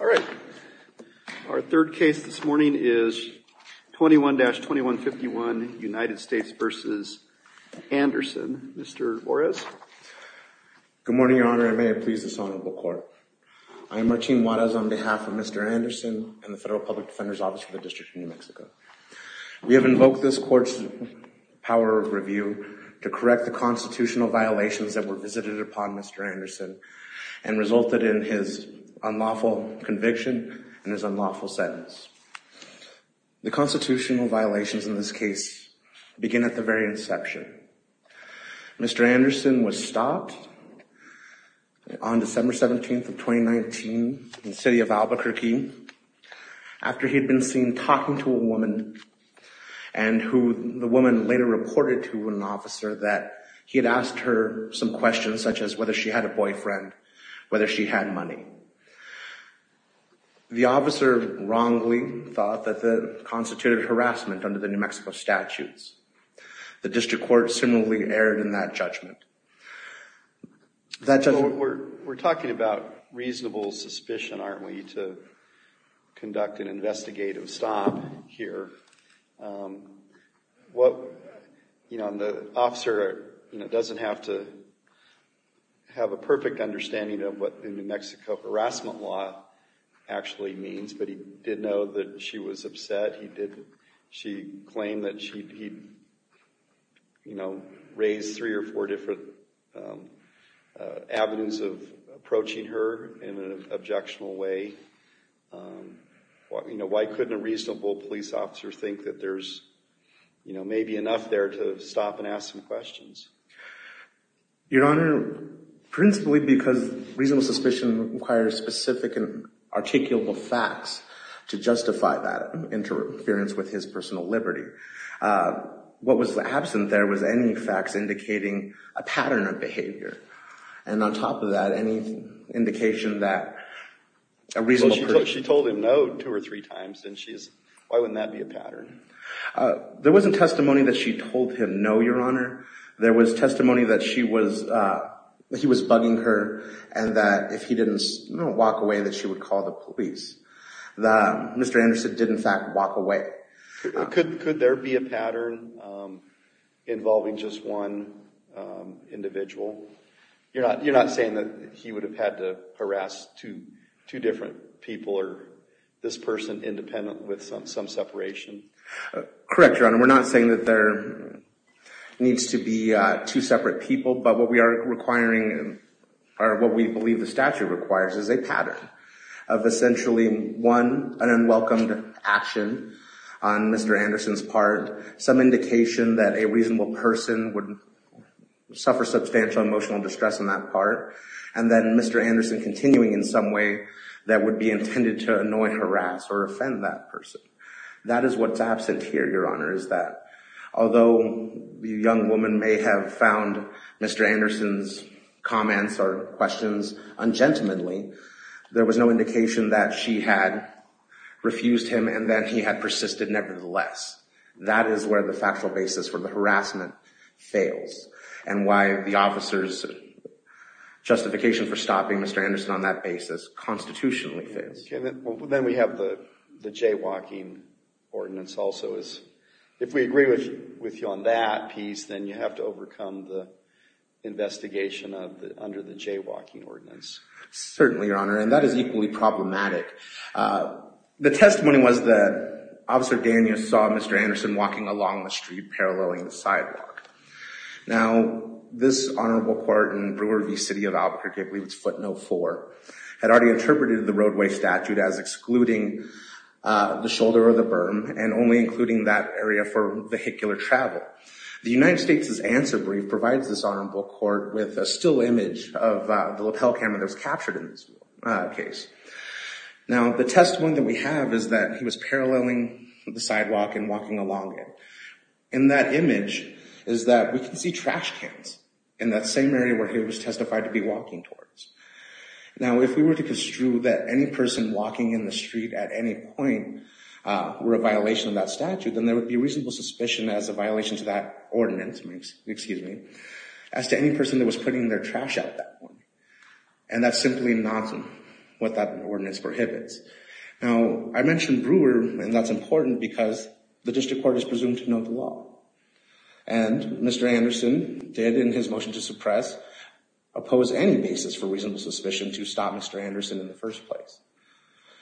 All right. Our third case this morning is 21-2151 United States v. Anderson. Mr. Juarez. Good morning, Your Honor. And may it please this honorable court. I am Marcin Juarez on behalf of Mr. Anderson and the Federal Public Defender's Office of the District of New Mexico. We have invoked this court's power of review to correct the constitutional violations that were visited upon Mr. Anderson and resulted in his unlawful conviction and his unlawful sentence. The constitutional violations in this case begin at the very inception. Mr. Anderson was stopped on December 17th of 2019 in the city of Albuquerque after he had been seen talking to a woman and who the woman later reported to an officer that he had asked her some questions such as whether she had a boyfriend, whether she had money. The officer wrongly thought that that constituted harassment under the New Mexico statutes. The district court similarly erred in that judgment. We're talking about reasonable suspicion, aren't we, to what, you know, and the officer, you know, doesn't have to have a perfect understanding of what the New Mexico harassment law actually means, but he did know that she was upset. He did, she claimed that she, you know, raised three or four different avenues of approaching her in an objectionable way. You know, why couldn't a reasonable police officer think that there's, you know, maybe enough there to stop and ask some questions? Your Honor, principally because reasonable suspicion requires specific and articulable facts to justify that interference with his personal liberty. What was absent there was any facts indicating a pattern of behavior. And on top of that, any indication that a reasonable person... She told him no two or three times and she's, why wouldn't that be a pattern? There wasn't testimony that she told him no, Your Honor. There was testimony that she was, he was bugging her and that if he didn't walk away that she would call the police. The, Mr. Anderson did in fact walk away. Could there be a pattern involving just one individual? You're not, you're not saying that he would have had to harass two, two different people or this person independent with some, some separation? Correct, Your Honor. We're not saying that there needs to be two separate people, but what we are requiring or what we believe the one, an unwelcomed action on Mr. Anderson's part, some indication that a reasonable person would suffer substantial emotional distress on that part. And then Mr. Anderson continuing in some way that would be intended to annoy, harass, or offend that person. That is what's absent here, Your Honor, is that although the young woman may have found Mr. Anderson's comments or questions ungentlemanly, there was no indication that she had refused him and that he had persisted nevertheless. That is where the factual basis for the harassment fails and why the officer's justification for stopping Mr. Anderson on that basis constitutionally fails. Then we have the, the jaywalking ordinance also is, if we agree with you on that piece, then you have to overcome the investigation of the, under the jaywalking ordinance. Certainly, Your Honor, and that is equally problematic. The testimony was that Officer Daniels saw Mr. Anderson walking along the street paralleling the sidewalk. Now, this Honorable Court in Brewer v. City of Albuquerque, I believe it's footnote four, had already interpreted the roadway statute as excluding the shoulder or the berm and only including that area for vehicular travel. The United States' answer brief provides this Honorable Court with a still image of the lapel camera that was captured in this case. Now, the testimony that we have is that he was paralleling the sidewalk and walking along it, and that image is that we can see trash cans in that same area where he was testified to be walking towards. Now, if we were to construe that any person walking in the street at any point were a violation of that statute, then there would be reasonable suspicion as a violation to that ordinance, excuse me, as to any person that was putting their trash out at that point, and that's simply not what that ordinance prohibits. Now, I mentioned Brewer, and that's important because the District Court is presumed to know the law, and Mr. Anderson did, in his motion to suppress, oppose any basis for reasonable suspicion to stop Mr. Anderson in the first place.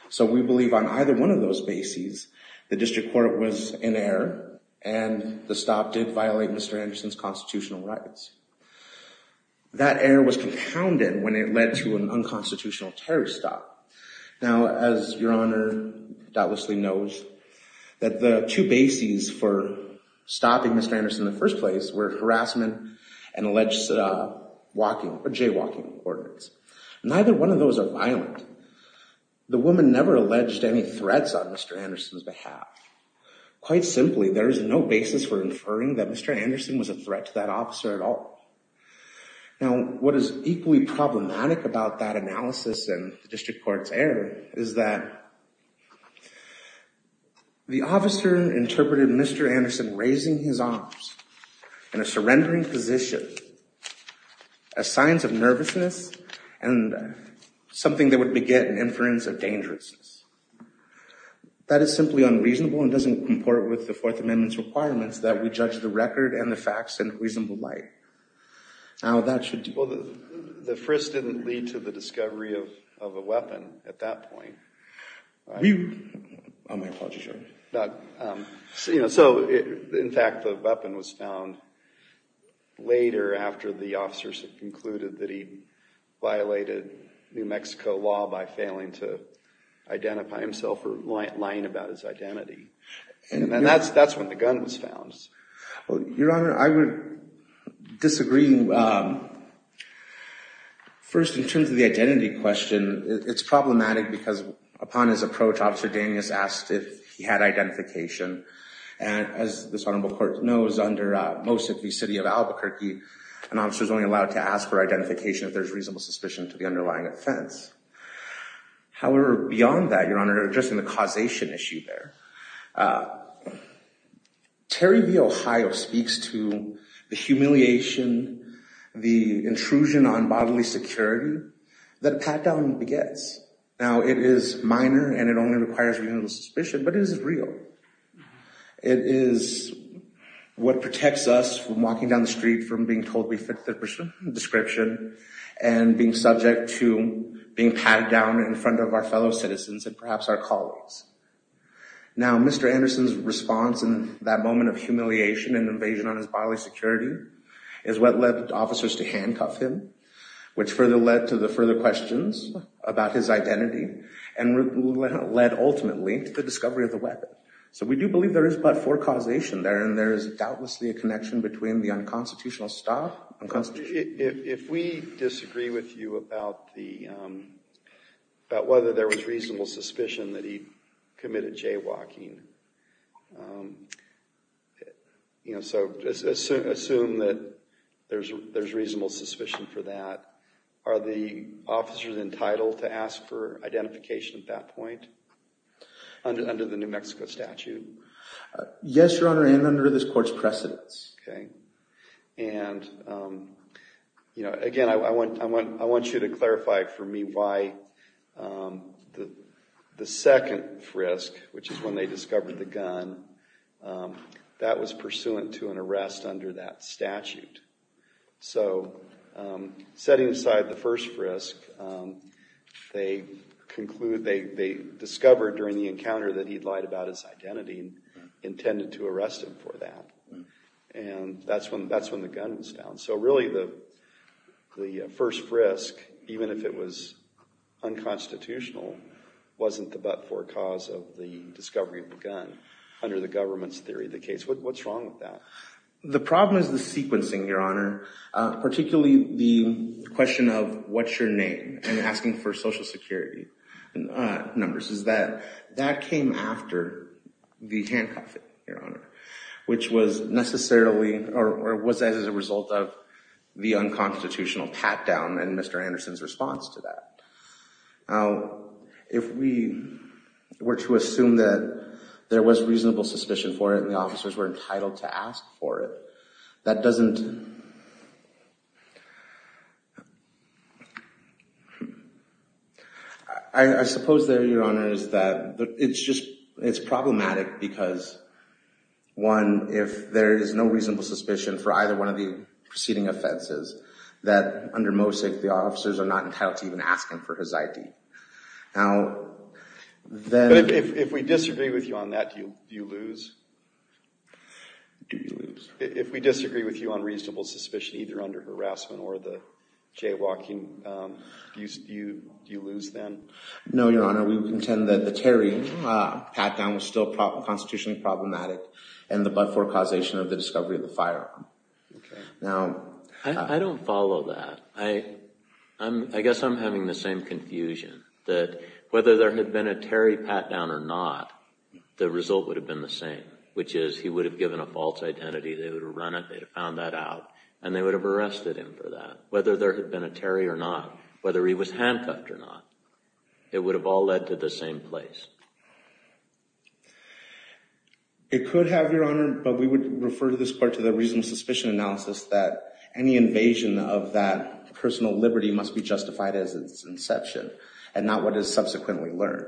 So, we believe on either one of those bases, the District Court was in error, and the stop did violate Mr. Anderson's constitutional rights. That error was compounded when it led to an unconstitutional terrorist stop. Now, as Your Honor doubtlessly knows, that the two bases for stopping Mr. Anderson in the first place were harassment and alleged jaywalking ordinance. Neither one of those are violent. The woman never alleged any threats on Mr. Anderson's behalf. Quite simply, there is no basis for inferring that Mr. Anderson was a threat to that officer at all. Now, what is equally problematic about that analysis and the District Court's error is that the officer interpreted Mr. Anderson raising his arms in a surrendering position as signs of nervousness and something that would get an inference of dangerousness. That is simply unreasonable and doesn't comport with the Fourth Amendment's requirements that we judge the record and the facts in reasonable light. Now, that should... Well, the frisk didn't lead to the discovery of a weapon at that point. Oh, my apologies, Your Honor. So, in fact, the weapon was found later after the officers concluded that he violated New Mexico law by failing to identify himself or lying about his identity. And that's when the gun was found. Well, Your Honor, I would disagree. First, in terms of the identity question, it's problematic because upon his approach, Officer Daniels asked if he had identification. And as this Honorable Court knows, under most of the City of Albuquerque, an officer is only allowed to ask for identification if there's reasonable suspicion to the underlying offense. However, beyond that, Your Honor, addressing the causation issue there, Terry v. Ohio speaks to the humiliation, the intrusion on bodily security that a pat-down begets. Now, it is minor and it only requires reasonable suspicion, but it is real. It is what protects us from walking down the street, from being told we fit the description, and being subject to being pat-down in front of our fellow citizens and perhaps our colleagues. Now, Mr. Anderson's response in that moment of humiliation and invasion on his bodily security is what led officers to handcuff him, which further led to the further questions about his So we do believe there is but for causation there, and there is doubtlessly a connection between the unconstitutional staff and constitution. If we disagree with you about whether there was reasonable suspicion that he committed jaywalking, so assume that there's reasonable suspicion for that, are the officers entitled to ask for a statute? Yes, Your Honor, and under this court's precedence. Okay. And, you know, again, I want you to clarify for me why the second frisk, which is when they discovered the gun, that was pursuant to an arrest under that statute. So, setting aside the first frisk, they discovered during the intent to arrest him for that, and that's when the gun was found. So really the first frisk, even if it was unconstitutional, wasn't the but-for cause of the discovery of the gun under the government's theory of the case. What's wrong with that? The problem is the sequencing, Your Honor, particularly the question of what's your name and asking for social security numbers, is that that came after the handcuffing, Your Honor, which was necessarily or was as a result of the unconstitutional pat-down and Mr. Anderson's response to that. Now, if we were to assume that there was reasonable suspicion for it and the officers were entitled to ask for it, that doesn't, I suppose there, Your Honor, is that it's just, it's problematic because, one, if there is no reasonable suspicion for either one of the preceding offenses, that under MOSIC the officers are not entitled to even asking for his ID. Now, then... But if we disagree with you on that, do you lose? Do you lose? If we disagree with you on reasonable suspicion either under harassment or the jaywalking, do you lose then? No, Your Honor, we contend that the Terry pat-down was still constitutionally problematic and the but-for causation of the discovery of the firearm. Now... I don't follow that. I guess I'm having the same confusion that whether there had been a Terry pat-down or not, the result would have been the same, which is he would have given a false identity, they would have run it, they'd have found that out and they would have arrested him for that. Whether there had been a Terry or not, whether he was handcuffed or not, it would have all led to the same place. It could have, Your Honor, but we would refer to this part to the reasonable suspicion analysis that any invasion of that personal liberty must be justified as its inception and not what is subsequently learned.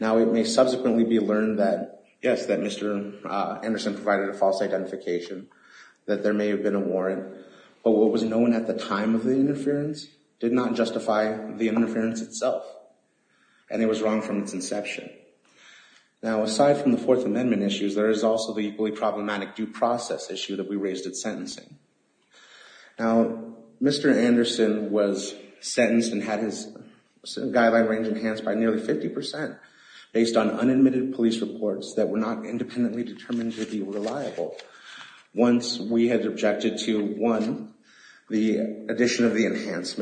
Now, it may subsequently be learned that, yes, that Mr. Anderson provided a false identification, that there may have been a warrant, but what was known at the time of the interference did not justify the interference itself and it was wrong from its inception. Now, aside from the Fourth Amendment issues, there is also the equally problematic due process issue that we raised at sentencing. Now, Mr. Anderson was sentenced and had his guideline range enhanced by nearly 50% based on unadmitted police reports that were not independently determined to be reliable. Once we had objected to, one, the addition of the objections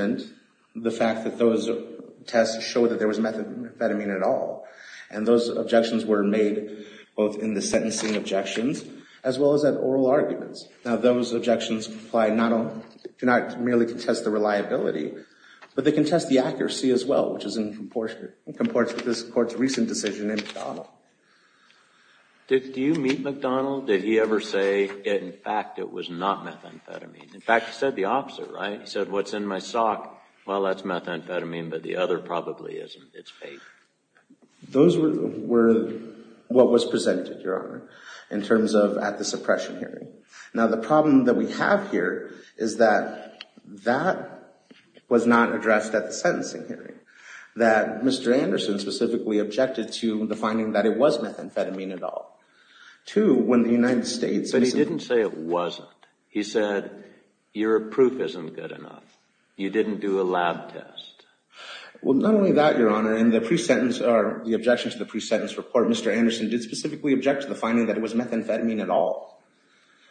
were made both in the sentencing objections as well as at oral arguments. Now, those objections do not merely contest the reliability, but they contest the accuracy as well, which is in proportion to this Court's recent decision in McDonnell. Do you meet McDonnell? Did he ever say, in fact, it was not methamphetamine? In fact, he said the opposite, right? He said, what's in my sock? Well, that's methamphetamine, but the other probably isn't. It's vape. Those were what was presented, Your Honor, in terms of at the suppression hearing. Now, the problem that we have here is that that was not addressed at the sentencing hearing, that Mr. Anderson specifically objected to the finding that it was methamphetamine at all. Two, when the United States... But he didn't say it wasn't. He said, your proof isn't good enough. You didn't do a lab test. Well, not only that, Your Honor, in the pre-sentence, or the objection to the pre-sentence report, Mr. Anderson did specifically object to the finding that it was methamphetamine at all.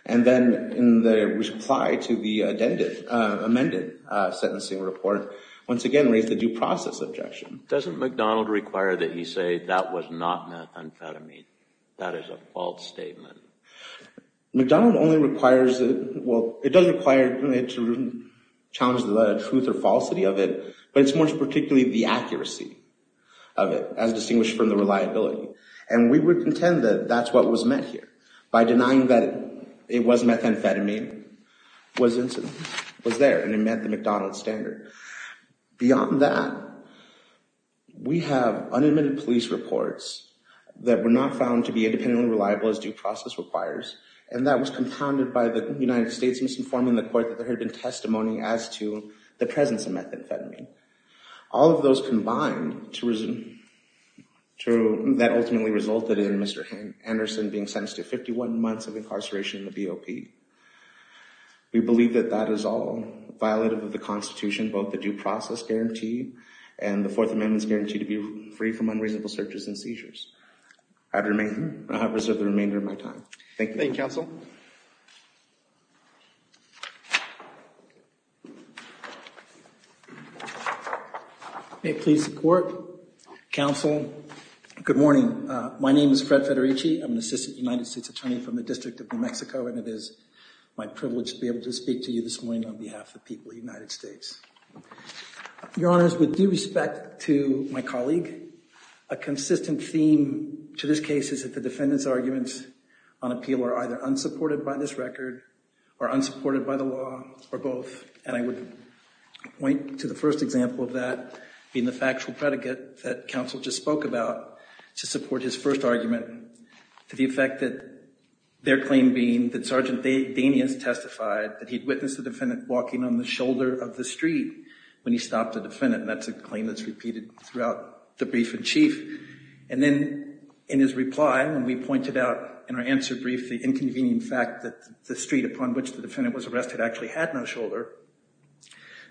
And then in the reply to the amended sentencing report, once again raised the due process objection. Doesn't McDonnell require that he say, that was not methamphetamine? That is a false statement. McDonnell only requires... Well, it does require to challenge the truth or falsity of it, but it's more particularly the accuracy of it, as distinguished from the reliability. And we would contend that that's what was met here. By denying that it was methamphetamine was there, and it met the McDonnell standard. Beyond that, we have unadmitted police reports that were not found to be independently reliable as due process requires, and that was compounded by the United States misinforming the court that there had been testimony as to the presence of methamphetamine. All of those combined, that ultimately resulted in Mr. Anderson being sentenced to 51 months of incarceration in the BOP. We believe that that is all violative of the Constitution, both the due process guarantee, and the Fourth Amendment's guarantee to be free from unreasonable searches and seizures. I have reserved the remainder of my time. Thank you. Thank you, Counsel. May it please the Court, Counsel, good morning. My name is Fred Federici. I'm an Assistant United States Attorney from the District of New Mexico, and it is my privilege to be able to speak to you this morning on behalf of the people of the United States. Your Honors, with due respect to my appeal, are either unsupported by this record or unsupported by the law or both, and I would point to the first example of that being the factual predicate that Counsel just spoke about to support his first argument to the effect that their claim being that Sergeant Danius testified that he'd witnessed the defendant walking on the shoulder of the street when he stopped the defendant, and that's a claim that's repeated throughout the brief in chief. And then in his brief, the inconvenient fact that the street upon which the defendant was arrested actually had no shoulder.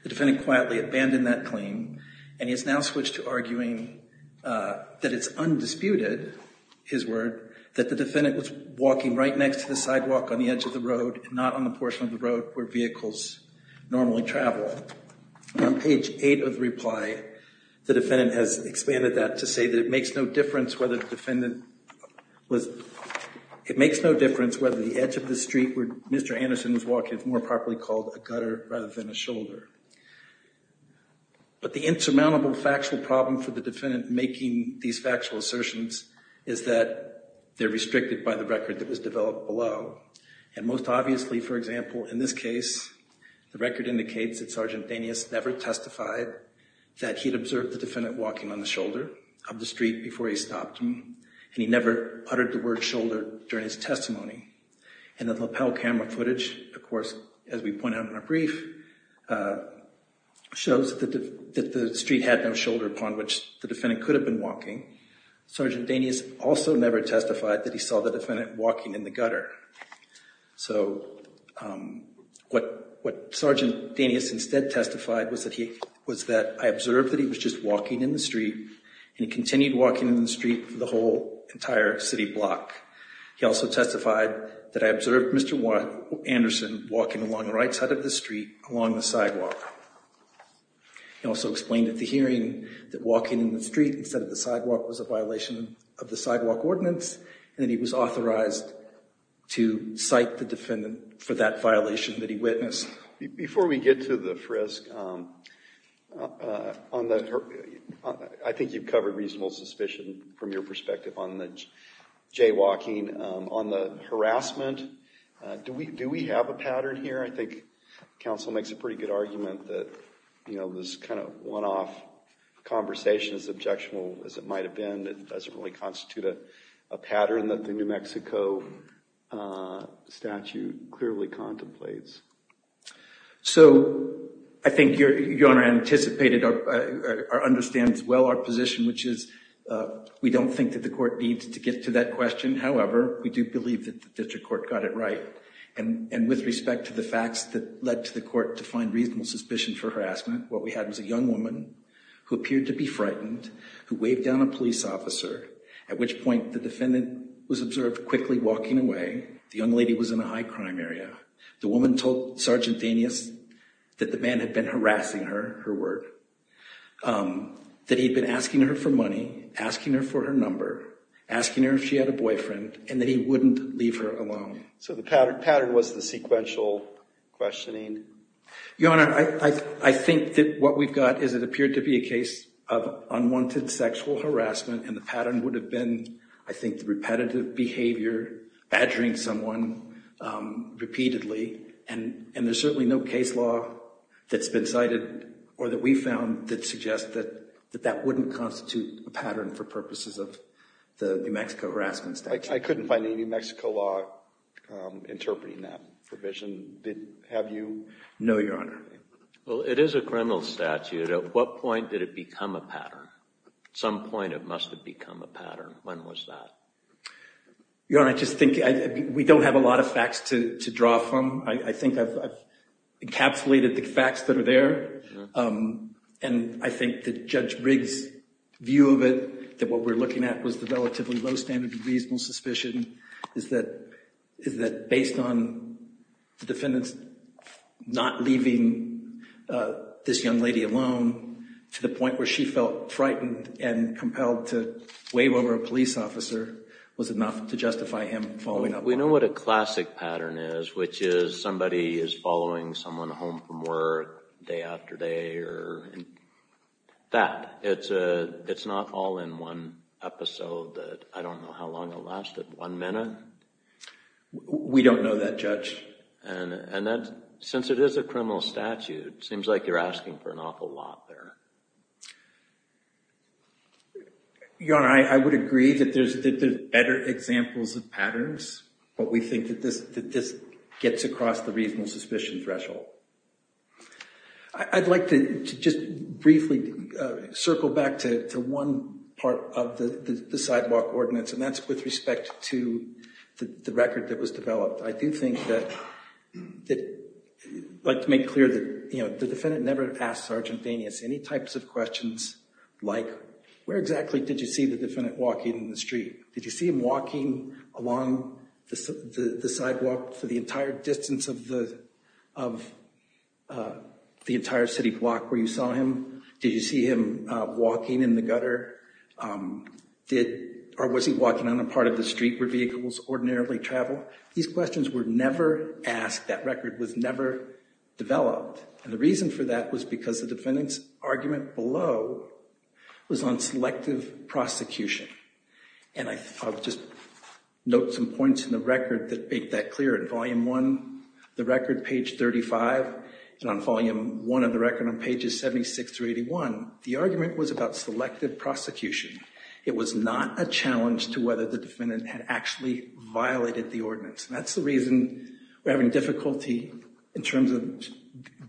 The defendant quietly abandoned that claim, and he has now switched to arguing that it's undisputed, his word, that the defendant was walking right next to the sidewalk on the edge of the road, not on the portion of the road where vehicles normally travel. On page eight of the reply, the defendant has expanded that to say that it makes no difference whether the defendant was, it makes no difference whether the edge of the street where Mr. Anderson was walking is more properly called a gutter rather than a shoulder. But the insurmountable factual problem for the defendant making these factual assertions is that they're restricted by the record that was developed below, and most obviously, for example, in this case, the record indicates that Sergeant Danius never testified that he'd observed the defendant walking on the shoulder of the street before he never uttered the word shoulder during his testimony. And the lapel camera footage, of course, as we point out in our brief, shows that the street had no shoulder upon which the defendant could have been walking. Sergeant Danius also never testified that he saw the defendant walking in the gutter. So what Sergeant Danius instead testified was that he, was that I observed that he was just walking in the street, and he continued walking in the street for the whole entire city block. He also testified that I observed Mr. Anderson walking along the right side of the street along the sidewalk. He also explained at the hearing that walking in the street instead of the sidewalk was a violation of the sidewalk ordinance, and that he was authorized to cite the defendant for that violation that he witnessed. Before we get to the frisk, I think you've covered reasonable suspicion from your perspective on the jaywalking. On the harassment, do we have a pattern here? I think counsel makes a pretty good argument that, you know, this kind of one-off conversation is as objectionable as it might have been. It doesn't really constitute a pattern that the New Mexico statute clearly contemplates. So I think your Honor anticipated or understands well our position, which is we don't think that the court needs to get to that question. However, we do believe that the district court got it right, and with respect to the facts that led to the court to find reasonable suspicion for harassment, what we had was a young woman who appeared to be frightened, who waved down a police officer, at which point the defendant was observed quickly walking away. The young lady was in a high crime area. The woman told Sgt. Danius that the man had been harassing her, her work, that he'd been asking her for money, asking her for her number, asking her if she had a boyfriend, and that he wouldn't leave her alone. So the pattern was the sequential questioning? Your Honor, I think that what we've got is it appeared to be a case of unwanted sexual harassment, and the pattern would have been, I think, repetitive behavior, badgering someone repeatedly, and there's certainly no case law that's been cited or that we found that suggests that that wouldn't constitute a pattern for purposes of the New Mexico harassment statute. I couldn't find any New Mexico law interpreting that provision, did, have you? No, Your Honor. Well, it is a criminal statute. At what point did it become a pattern? At some point it must have become a pattern. When was that? Your Honor, I just think we don't have a lot of facts to draw from. I think I've encapsulated the facts that are there, and I think that Judge Riggs' view of it, that what we're looking at was the relatively low standard of reasonable suspicion, is that based on defendants not leaving this young lady alone to the point where she felt frightened and compelled to wave over a police officer was enough to justify him following up on her. We know what a classic pattern is, which is somebody is following someone home from work day after day or that. It's not all in one episode that I don't know how long it lasted, one minute? We don't know that, Judge. And that, since it is a criminal statute, seems like you're asking for an awful lot there. Your Honor, I would agree that there's better examples of patterns, but we think that this gets across the reasonable suspicion threshold. I'd like to just briefly circle back to one part of the sidewalk ordinance, and that's with respect to the record that was developed. I do think that I'd like to make clear that the defendant never asked Sergeant Danius any types of questions like, where exactly did you see the defendant walking in the street? Did you see him walking along the sidewalk for the entire distance of the entire city block where you saw him? Did you see him walking in the gutter? Or was he walking on a part of the street where vehicles ordinarily travel? These questions were never asked. That record was never developed. And the reason for that was because the defendant's argument below was on selective prosecution. And I'll just note some points in the record that make that clear. In Volume 1, the record, page 35, and on Volume 1 of the record on pages 76 through 81, the argument was about selective prosecution. It was not a challenge to whether the defendant had actually violated the ordinance. That's the reason we're having difficulty in terms of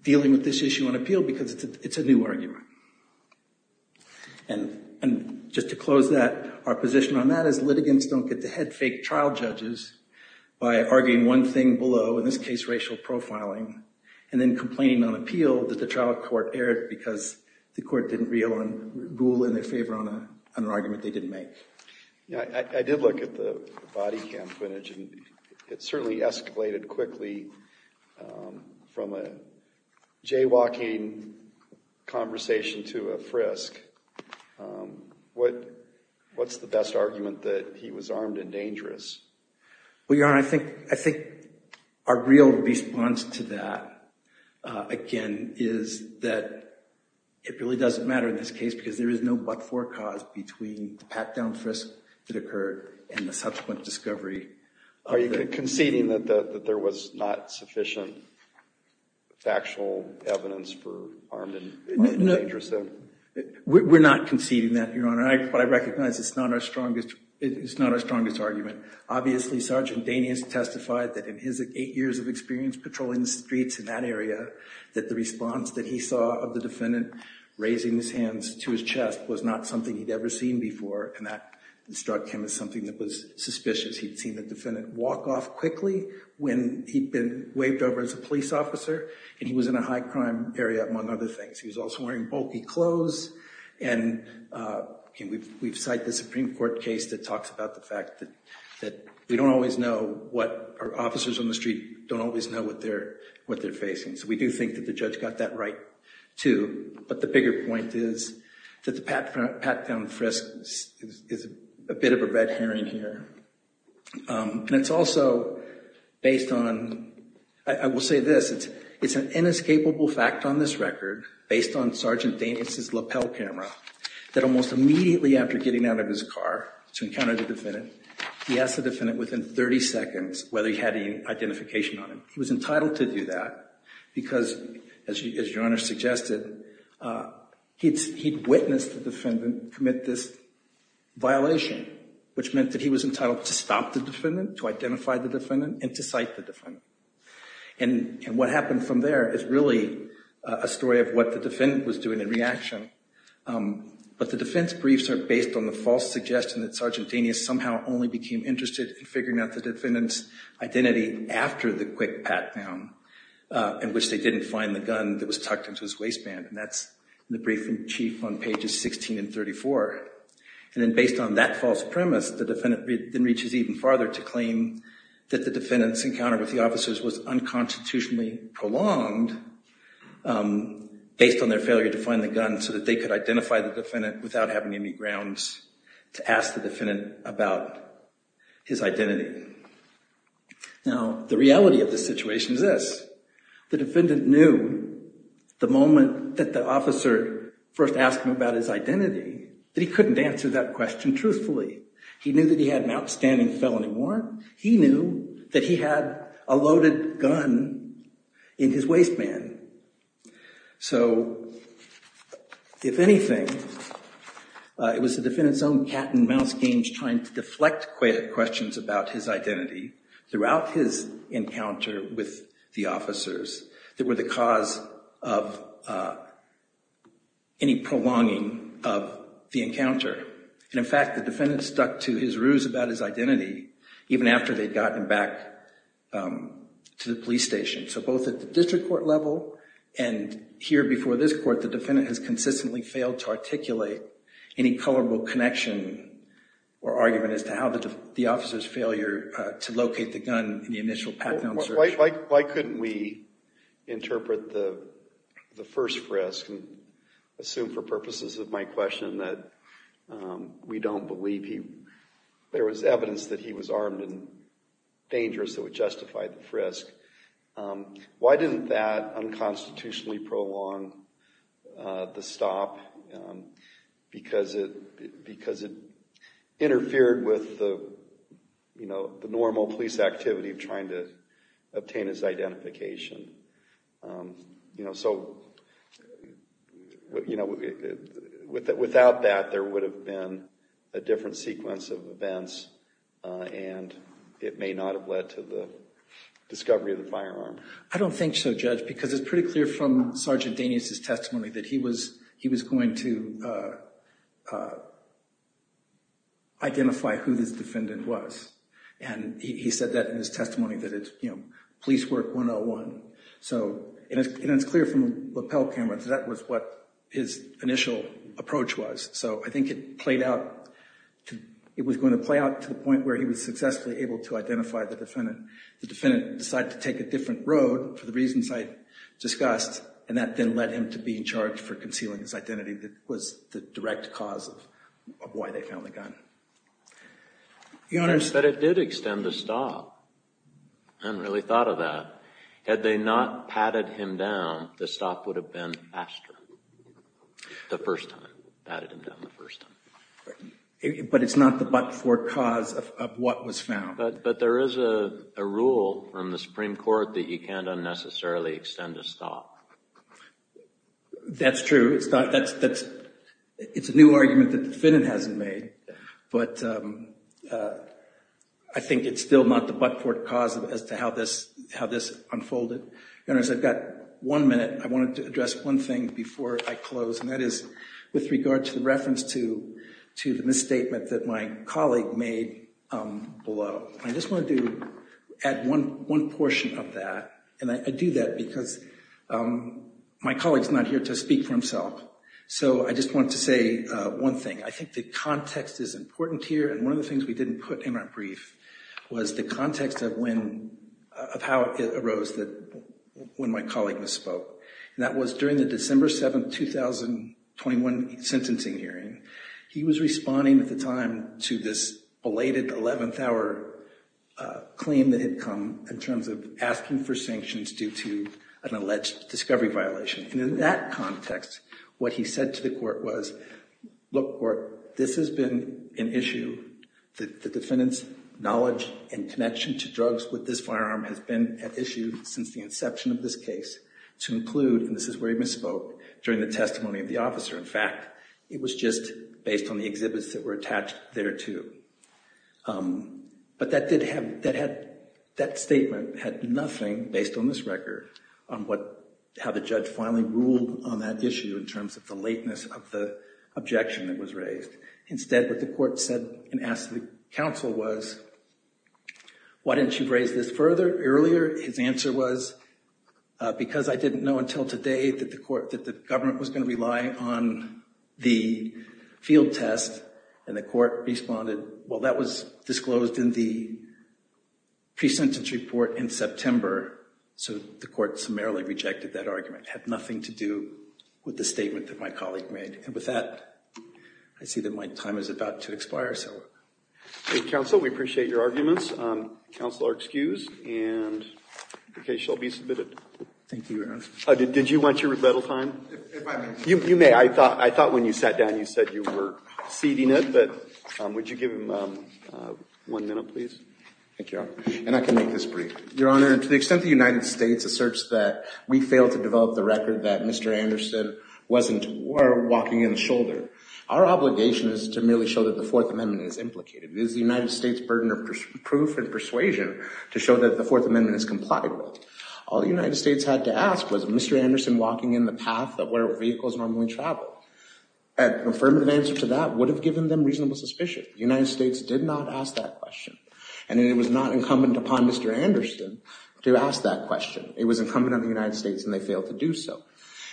dealing with this issue on appeal, because it's a new argument. And just to close that, our position on that is litigants don't get to head fake trial judges by arguing one thing below, in this case, racial profiling, and then complaining on appeal that the trial court erred because the court didn't rule in their favor on an argument they didn't make. I did look at the body cam footage, and it certainly escalated quickly from a jaywalking conversation to a frisk. What's the best argument that he was armed and dangerous? Well, Your Honor, I think our real response to that, again, is that it really doesn't matter in this case, because there is no but-for cause between the pat-down frisk that occurred and the subsequent discovery. Are you conceding that there was not sufficient factual evidence for armed and dangerous? We're not conceding that, Your Honor. What I recognize is it's not our strongest argument. Obviously, Sergeant Danius testified that in his eight years of experience patrolling the streets in that area, that the response that he saw of the defendant raising his hands to his chest was not something he'd ever seen before, and that struck him as something that was suspicious. He'd seen the defendant walk off quickly when he'd been waved over as a police officer, and he was in a high-crime area, among other things. He was also wearing bulky clothes, and we've cited the Supreme Court case that talks about the fact that officers on the street don't always know what they're facing. So we do think that the judge got that right, too. But the bigger point is that the pat-down frisk is a bit of a red herring here. And it's also based on, I will say this, it's an inescapable fact on this record, based on Sergeant Danius' lapel camera, that almost immediately after getting out of his car to encounter the defendant, he asked the defendant within 30 seconds whether he had any identification on him. He was entitled to do that because, as Your Honor suggested, he'd witnessed the defendant commit this violation, which meant that he was entitled to stop the defendant, to identify the defendant, and to cite the defendant. And what happened from there is really a story of what the defendant was doing in reaction. But the defense briefs are based on the false suggestion that Sergeant Danius somehow only became interested in figuring out the defendant's identity after the quick pat-down, in which they didn't find the gun that was tucked into his waistband. And that's the brief in chief on pages 16 and 34. And then based on that false premise, the defendant then reaches even farther to claim that the defendant's encounter with the officers was unconstitutionally prolonged, based on their failure to find the gun, so that they could identify the defendant without having any grounds to ask the defendant about his identity. Now, the reality of the situation is this. The defendant knew the moment that the officer first asked him about his identity that he couldn't answer that question truthfully. He knew that he had an outstanding felony warrant. He knew that he had a loaded gun in his waistband. So, if anything, it was the defendant's own cat and mouse games trying to deflect questions about his identity throughout his encounter with the officers that were the cause of any prolonging of the encounter. And in fact, the defendant stuck to his ruse about his identity even after they'd gotten him back to the police station. So, both at the district court level and here before this court, the defendant has consistently failed to articulate any colorable connection or argument as to how the officer's failure to locate the gun in the initial pat-down search. Why couldn't we interpret the lead? There was evidence that he was armed and dangerous that would justify the frisk. Why didn't that unconstitutionally prolong the stop? Because it interfered with the normal police activity of trying to obtain his identification. So, you know, without that, there would have been a different sequence of events, and it may not have led to the discovery of the firearm. I don't think so, Judge, because it's pretty clear from Sergeant Danius' testimony that he was going to identify who this defendant was. And he said that in his testimony that it's, you know, police work 101. So, and it's clear from the lapel camera that that was what his initial approach was. So, I think it played out, it was going to play out to the point where he was successfully able to identify the defendant. The defendant decided to take a different road for the reasons I discussed, and that then led him to be in charge for concealing his identity that was the direct cause of why they found the gun. Your Honors. But it did extend the stop. I hadn't really thought of that. Had they not padded him down, the stop would have been faster the first time, padded him down the first time. But it's not the but-for cause of what was found. But there is a rule from the Supreme Court that you can't unnecessarily extend a stop. That's true. It's not, that's, it's a new argument that the defendant hasn't made. But I think it's still not the but-for cause as to how this, how this unfolded. Your Honors, I've got one minute. I wanted to address one thing before I close, and that is with regard to the reference to, to the misstatement that my colleague made below. I just want to do, add one, one portion of that. And I do that because my colleague's not here to speak for himself. So, I just want to say one thing. I think the was the context of when, of how it arose that, when my colleague misspoke. And that was during the December 7, 2021 sentencing hearing. He was responding at the time to this belated 11th hour claim that had come in terms of asking for sanctions due to an alleged discovery violation. And in that context, what he said to the court was, look, court, this has been an issue. The defendant's knowledge and connection to drugs with this firearm has been at issue since the inception of this case to include, and this is where he misspoke, during the testimony of the officer. In fact, it was just based on the exhibits that were attached there too. But that did have, that had, that statement had nothing, based on this record, on what, how the judge finally ruled on that issue in terms of the lateness of the objection that was raised. Instead, what the court said and asked the counsel was, why didn't you raise this further earlier? His answer was, because I didn't know until today that the court, that the government was going to rely on the field test. And the court responded, well, that was disclosed in the pre-sentence report in September. So the court summarily rejected that argument. It had nothing to do with the statement that my colleague made. And with that, I see that my time is about to expire. So counsel, we appreciate your arguments. Counsel are excused and the case shall be submitted. Thank you, Your Honor. Did you want your rebuttal time? If I may. You may. I thought, I thought when you sat down, you said you were ceding it, but would you give him one minute, please? Thank you, Your Honor. And I can make this brief. Your Honor, to the extent the United States asserts that we failed to develop the record that Mr. Anderson wasn't, or walking in the shoulder, our obligation is to merely show that the Fourth Amendment is implicated. It is the United States' burden of proof and persuasion to show that the Fourth Amendment is complied with. All the United States had to ask was, is Mr. Anderson walking in the path of where vehicles normally travel? And an affirmative answer to that would have given them reasonable suspicion. The United States did not ask that question. And it was not incumbent upon Mr. Anderson to ask that question. It was incumbent on the United States and they failed to do so.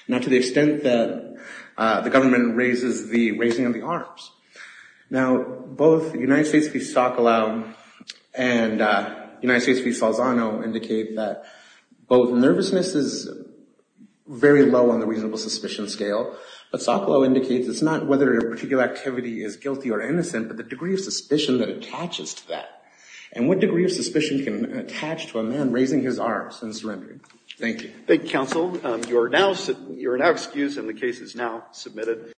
Now, to the extent that the government raises the raising of the arms. Now, both United States v. Sokolow and United States v. Salzano indicate that both nervousness is very low on the reasonable suspicion scale, but Sokolow indicates it's not whether a particular activity is guilty or innocent, but the degree of suspicion that attaches to that. And what degree of suspicion can attach to a man raising his arms and surrendering? Thank you. Thank you, counsel. You are now excused and the case is now submitted.